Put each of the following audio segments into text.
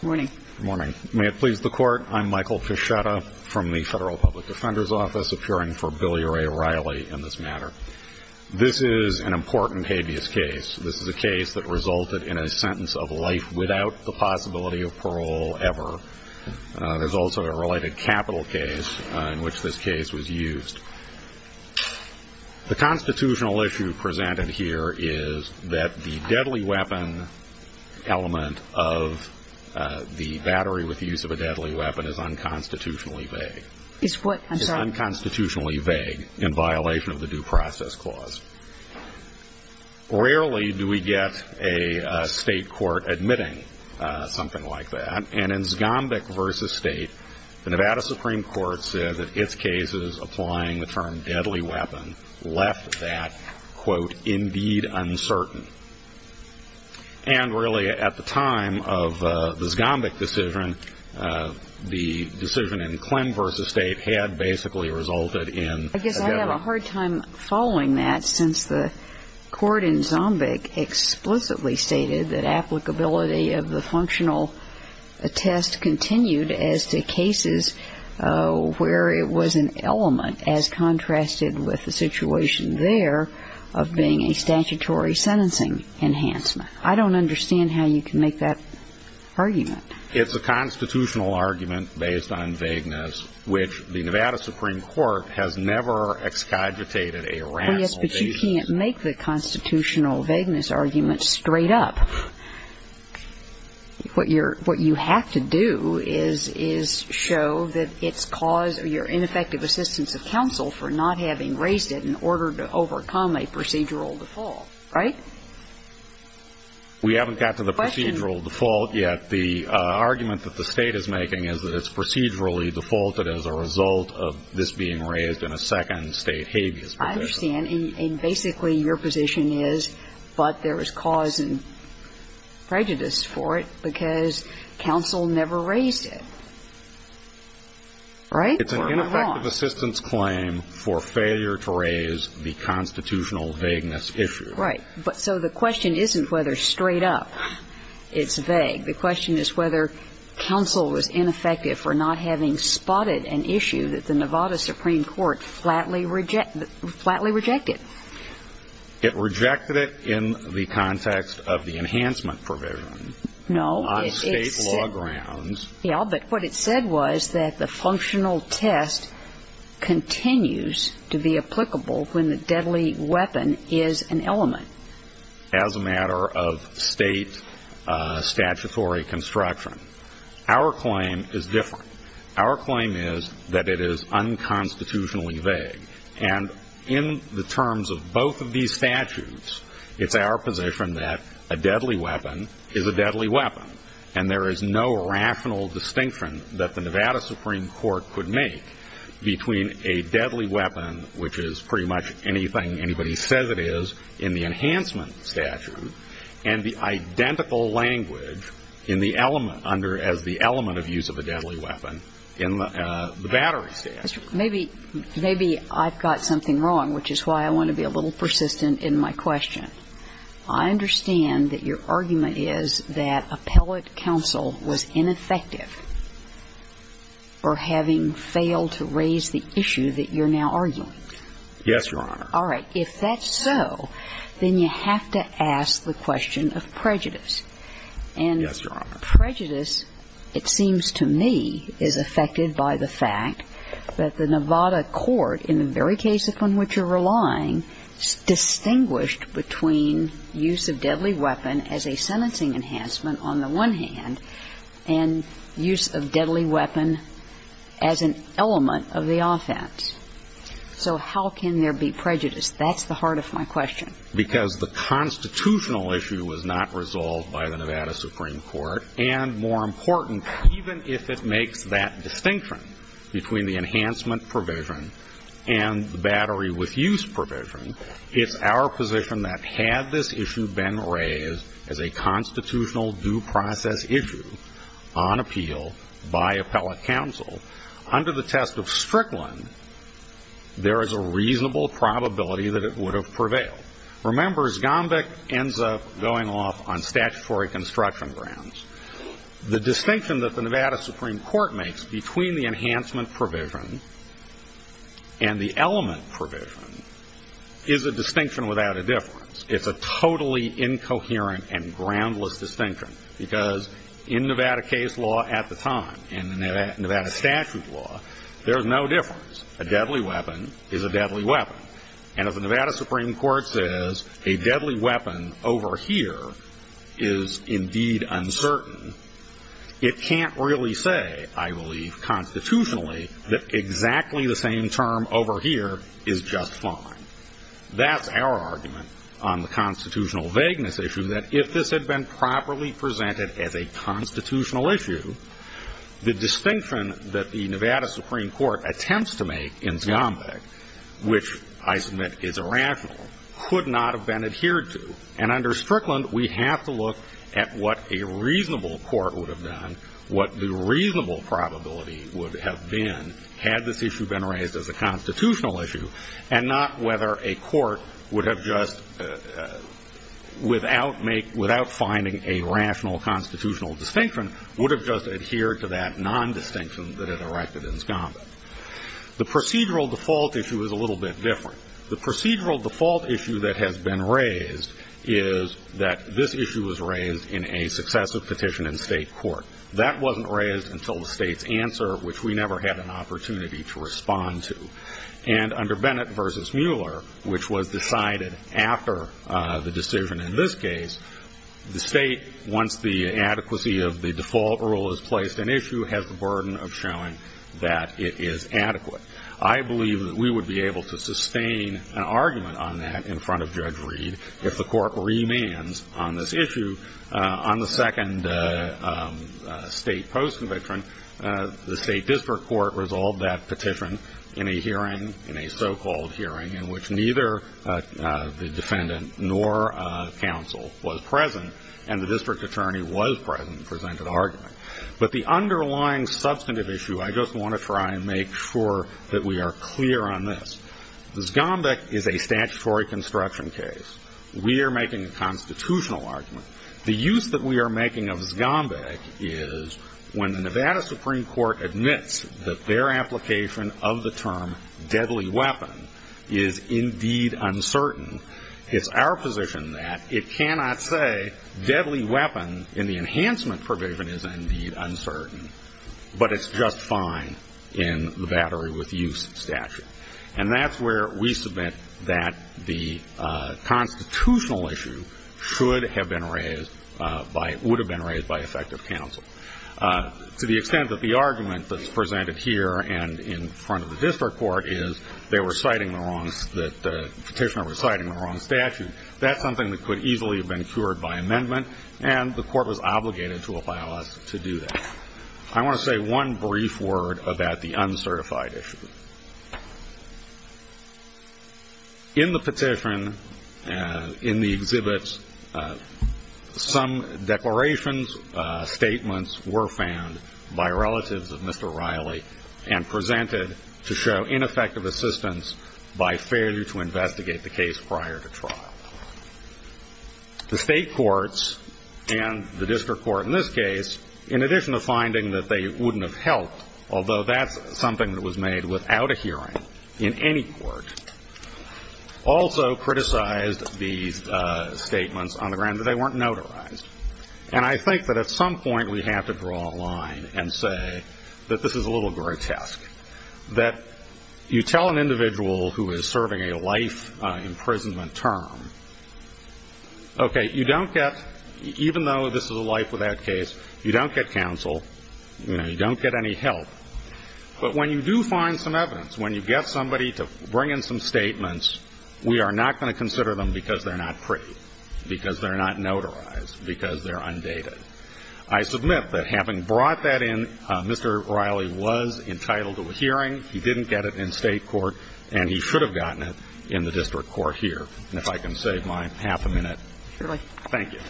Good morning. May it please the Court, I'm Michael Fischetta from the Federal Public Defender's Office, appearing for Billy Ray Riley in this matter. This is an important habeas case. This is a case that resulted in a sentence of life without the possibility of parole ever. There's also a related capital case in which this case was used. The constitutional issue presented here is that the deadly weapon element of the battery with the use of a deadly weapon is unconstitutionally vague in violation of the Due Process Clause. Rarely do we get a state court admitting something like that. And in Zgombik v. State, the Nevada Supreme Court said that its cases applying the term deadly weapon left that, quote, indeed uncertain. And really, at the time of the Zgombik decision, the decision in Clem v. State had basically resulted in a deadly weapon. I guess I have a hard time following that, since the court in Zgombik explicitly stated that applicability of the functional test continued as to cases where it was an element, as contrasted with the situation there, of being a statutory sentencing enhancement. I don't understand how you can make that argument. It's a constitutional argument based on vagueness, which the Nevada Supreme Court has never excogitated a rational basis. You can't make the constitutional vagueness argument straight up. What you have to do is show that it's caused your ineffective assistance of counsel for not having raised it in order to overcome a procedural default, right? We haven't gotten to the procedural default yet. The argument that the State is making is that it's procedurally defaulted as a result of this being raised in a second State habeas provision. I understand. And basically your position is, but there is cause and prejudice for it because counsel never raised it, right? It's an ineffective assistance claim for failure to raise the constitutional vagueness issue. Right. So the question isn't whether straight up it's vague. The question is whether counsel was ineffective for not having spotted an issue that the Nevada Supreme Court flatly rejected. It rejected it in the context of the enhancement provision on State law grounds. Yeah, but what it said was that the functional test continues to be applicable when the deadly weapon is an element. As a matter of State statutory construction. Our claim is different. Our claim is that it is unconstitutionally vague. And in the terms of both of these statutes, it's our position that a deadly weapon is a deadly weapon. And there is no rational distinction that the Nevada Supreme Court could make between a deadly weapon, which is pretty much anything anybody says it is in the enhancement statute, and the identical language in the element as the element of use of a deadly weapon in the battery statute. Maybe I've got something wrong, which is why I want to be a little persistent in my question. I understand that your argument is that appellate counsel was ineffective for having failed to raise the issue that you're now arguing. Yes, Your Honor. All right. If that's so, then you have to ask the question of prejudice. Yes, Your Honor. Prejudice, it seems to me, is affected by the fact that the Nevada court, in the very case upon which you're relying, distinguished between use of deadly weapon as a sentencing enhancement, on the one hand, and use of deadly weapon as an element of the offense. So how can there be prejudice? That's the heart of my question. Because the constitutional issue was not resolved by the Nevada Supreme Court, and more important, even if it makes that distinction between the enhancement provision and the battery with use provision, it's our position that had this issue been raised as a constitutional due process issue on appeal by appellate counsel, under the test of Strickland, there is a reasonable probability that it would have prevailed. Remember, as Gombeck ends up going off on statutory construction grounds, the distinction that the Nevada Supreme Court makes between the enhancement provision and the element provision is a distinction without a difference. It's a totally incoherent and groundless distinction. Because in Nevada case law at the time, in Nevada statute law, there's no difference. A deadly weapon is a deadly weapon. And if the Nevada Supreme Court says a deadly weapon over here is indeed uncertain, it can't really say, I believe, constitutionally, that exactly the same term over here is just fine. That's our argument on the constitutional vagueness issue, that if this had been properly presented as a constitutional issue, the distinction that the Nevada Supreme Court attempts to make in Gombeck, which I submit is irrational, could not have been adhered to. And under Strickland, we have to look at what a reasonable court would have done, what the reasonable probability would have been had this issue been raised as a constitutional issue, and not whether a court would have just, without finding a rational constitutional distinction, would have just adhered to that nondistinction that had erected in Gombeck. The procedural default issue is a little bit different. The procedural default issue that has been raised is that this issue was raised in a successive petition in state court. That wasn't raised until the state's answer, which we never had an opportunity to respond to. And under Bennett v. Mueller, which was decided after the decision in this case, the state, once the adequacy of the default rule is placed in issue, has the burden of showing that it is adequate. I believe that we would be able to sustain an argument on that in front of Judge Reed if the court remands on this issue. On the second state post-conviction, the state district court resolved that petition in a hearing, in a so-called hearing, in which neither the defendant nor counsel was present, and the district attorney was present and presented an argument. But the underlying substantive issue, I just want to try and make sure that we are clear on this. Gombeck is a statutory construction case. We are making a constitutional argument. The use that we are making of Gombeck is when the Nevada Supreme Court admits that their application of the term deadly weapon is indeed uncertain, it's our position that it cannot say deadly weapon in the enhancement provision is indeed uncertain, but it's just fine in the Battery with Use statute. And that's where we submit that the constitutional issue should have been raised by, would have been the district counsel. To the extent that the argument that's presented here and in front of the district court is that the petitioner was citing the wrong statute, that's something that could easily have been cured by amendment, and the court was obligated to allow us to do that. I want to say one brief word about the uncertified issue. In the petition, in the exhibits, some declarations, statements were found by relatives of Mr. Riley and presented to show ineffective assistance by failure to investigate the case prior to trial. The state courts and the district court in this case, in addition to finding that they wouldn't have helped, although that's something that was made without a hearing in any court, also criticized these statements on the grounds that they weren't notarized. And I think that at some point we have to draw a line and say that this is a little grotesque, that you tell an individual who is serving a life imprisonment term, okay, you don't get, even though this is a life without case, you don't get counsel, you don't get any help. But when you do find some evidence, when you get somebody to bring in some statements, we are not going to consider them because they're not pretty, because they're not notarized, because they're undated. I submit that having brought that in, Mr. Riley was entitled to a hearing. He didn't get it in state court, and he should have gotten it in the district court here. And if I can save my half a minute. Surely. Thank you.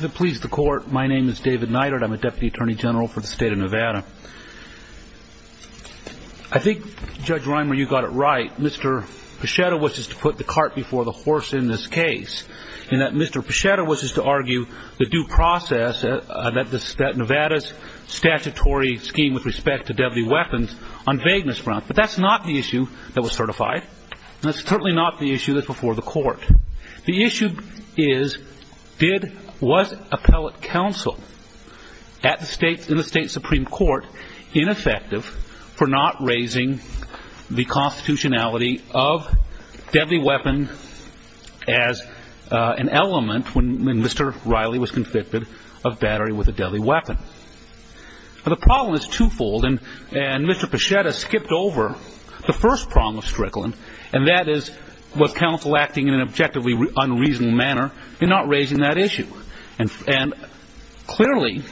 To please the court, my name is David Neidert. I'm a Deputy Attorney General for the state of Nevada. I think, Judge Reimer, you got it right. Mr. Pachetta wishes to put the cart before the horse in this case. And that Mr. Pachetta wishes to argue the due process that Nevada's statutory scheme with respect to deadly weapons on vagueness grounds. But that's not the issue that was certified. That's certainly not the issue that's before the court. The issue is, did, was appellate counsel at the state, in the state Supreme Court ineffective for not raising the constitutionality of deadly weapon as an element when Mr. Riley was convicted of battery with a deadly weapon. But the problem is twofold. And Mr. Pachetta skipped over the first problem of Strickland, and that is, was counsel acting in an objectively unreasonable manner in not raising that issue. And clearly,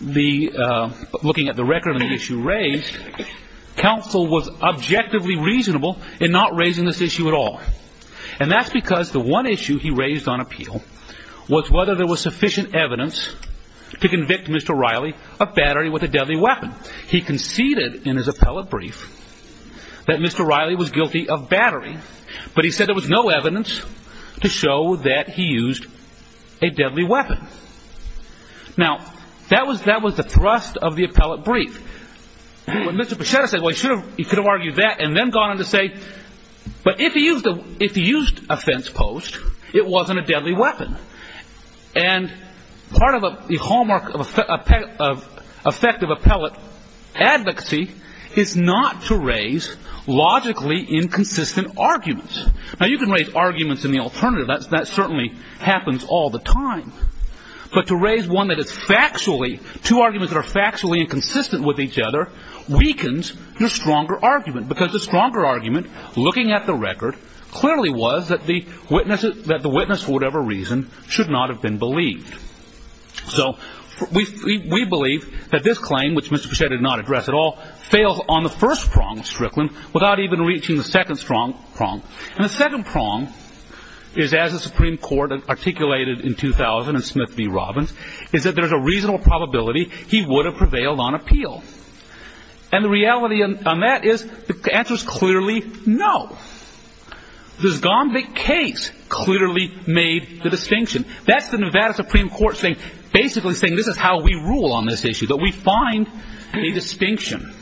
the, looking at the record of the issue raised, counsel was objectively reasonable in not raising this issue at all. And that's because the one issue he raised on appeal was whether there was sufficient evidence to convict Mr. Riley of battery with a deadly weapon. He conceded in his appellate brief that Mr. Riley was guilty of battery. But he said there was no evidence to show that he used a deadly weapon. Now, that was the thrust of the appellate brief. When Mr. Pachetta said, well, he should have, he could have argued that and then gone on to say, but if he used a fence post, it wasn't a deadly weapon. And part of the hallmark of effective appellate advocacy is not to raise logically inconsistent arguments. Now, you can raise arguments in the alternative. That certainly happens all the time. But to raise one that is factually, two arguments that are factually inconsistent with each other weakens your stronger argument. Because the stronger argument, looking at the record, clearly was that the witness, that the witness for whatever reason should not have been believed. So we believe that this claim, which Mr. Pachetta did not believe, has been reaching the second prong. And the second prong is, as the Supreme Court articulated in 2000 in Smith v. Robbins, is that there's a reasonable probability he would have prevailed on appeal. And the reality on that is the answer is clearly no. This Gombe case clearly made the distinction. That's the Nevada Supreme Court saying, basically saying this is how we rule on this issue, that we find a distinction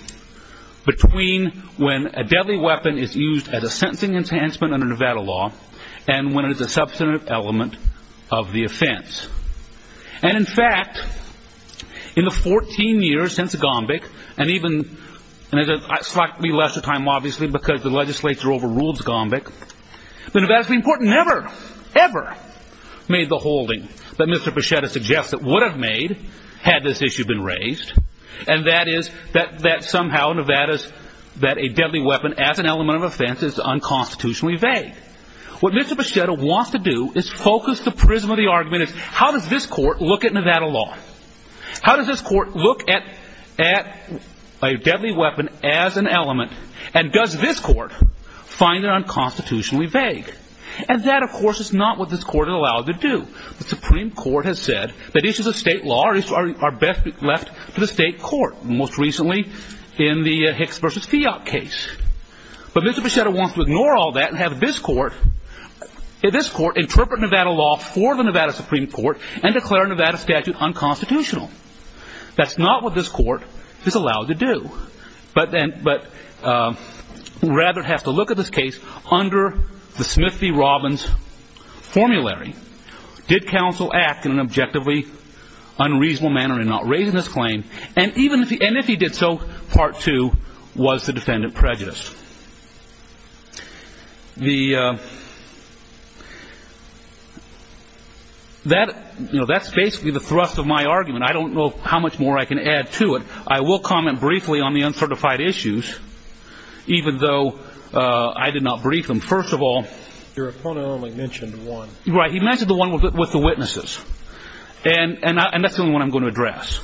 between when a deadly weapon is used as a sentencing enhancement under Nevada law and when it is a substantive element of the offense. And in fact, in the 14 years since Gombeck, and even in a slightly lesser time, obviously, because the legislature overruled Gombeck, the Nevada Supreme Court never, ever made the holding that Mr. Pachetta suggests it would have made had this issue been raised, and that is that somehow Nevada's, that a deadly weapon as an element of offense is unconstitutionally vague. What Mr. Pachetta wants to do is focus the prism of the argument as how does this court look at Nevada law? How does this court look at a deadly weapon as an element, and does this court find it unconstitutionally vague? And that, of course, is not what this court is allowed to do. The Supreme Court has said that issues of state law are best left to the state court, most recently in the Hicks v. Fiat case. But Mr. Pachetta wants to ignore all that and have this court interpret Nevada law for the Nevada Supreme Court and declare Nevada statute unconstitutional. That's not what this court is allowed to do, but rather has to look at this case under the Smith v. Robbins formulary. Did counsel act in an objectively unreasonable manner in not raising this claim? And if he did so, part two, was the defendant prejudiced? That's basically the thrust of my argument. I don't know how much more I can add to it. I will comment briefly on the uncertified issues, even though I did not brief him. First of all, your opponent only mentioned one. Right. He mentioned the one with the witnesses, and that's the only one I'm going to address.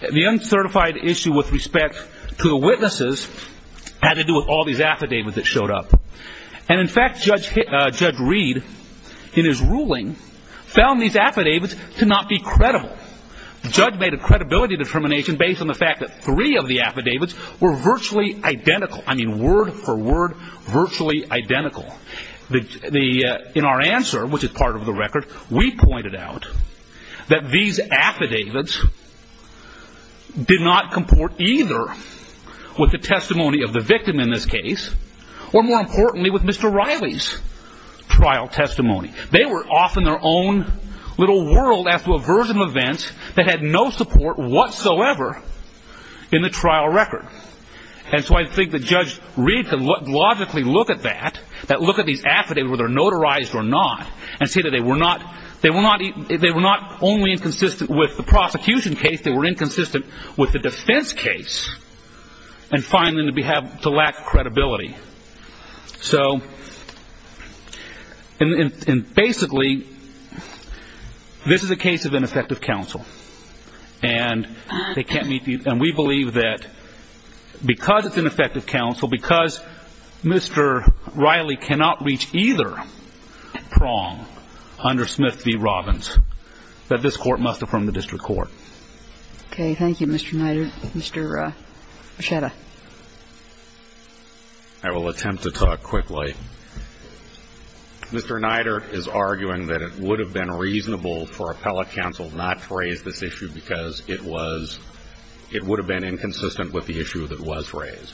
The uncertified issue with respect to the witnesses had to do with all these affidavits that showed up. And in fact, Judge Reed, in his ruling, found these affidavits to not be credible. The judge made a credibility determination based on the fact that three of the affidavits were virtually identical. I mean, word for word, virtually identical. In our answer, which is part of the record, we pointed out that these affidavits did not comport either with the testimony of the victim in this case, or more importantly, with Mr. Riley's trial testimony. They were off in their own little world after a version of events that had no support whatsoever in the trial record. And so I think that Judge Reed could logically look at that, that look at these affidavits, whether they're notarized or not, and see that they were not only inconsistent with the prosecution case, they were inconsistent with the defense case, and find them to lack credibility. So basically, this is a case of ineffective counsel. And we believe that because it's ineffective counsel, because Mr. Riley cannot reach either prong under Smith v. Robbins, that this Court must affirm the district court. Okay. Thank you, Mr. Nider. Mr. Breschetta. I will attempt to talk quickly. Mr. Nider is arguing that it would have been reasonable for appellate counsel not to raise this issue because it was – it would have been inconsistent with the issue that was raised.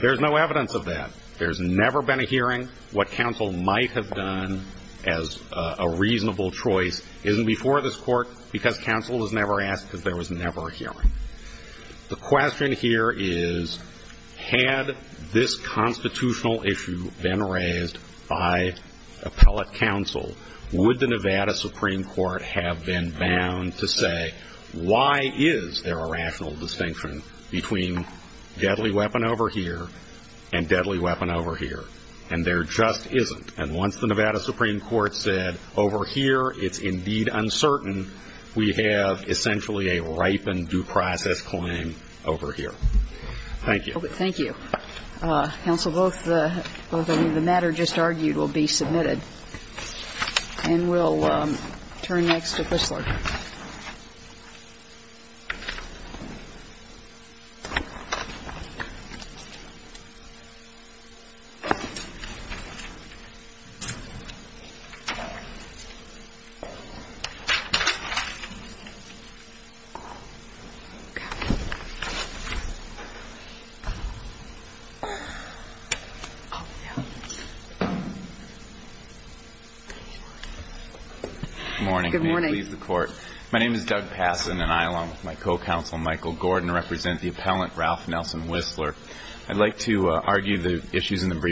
There's no evidence of that. There's never been a hearing. What counsel might have done as a reasonable choice isn't before this Court because counsel was never asked because there was never a hearing. The question here is, had this constitutional issue been raised by appellate counsel, would the Nevada Supreme Court have been bound to make a decision between deadly weapon over here and deadly weapon over here? And there just isn't. And once the Nevada Supreme Court said, over here, it's indeed uncertain, we have essentially a ripened due process claim over here. Thank you. Thank you. Counsel, both the – the matter just argued will be submitted. And we'll turn next to Kristler. Good morning. I may leave the Court. My name is Doug Passon, and I, along with my co-counsel Michael Gordon, represent the appellant Ralph Nelson Whistler. I'd like to argue the issues in the brief.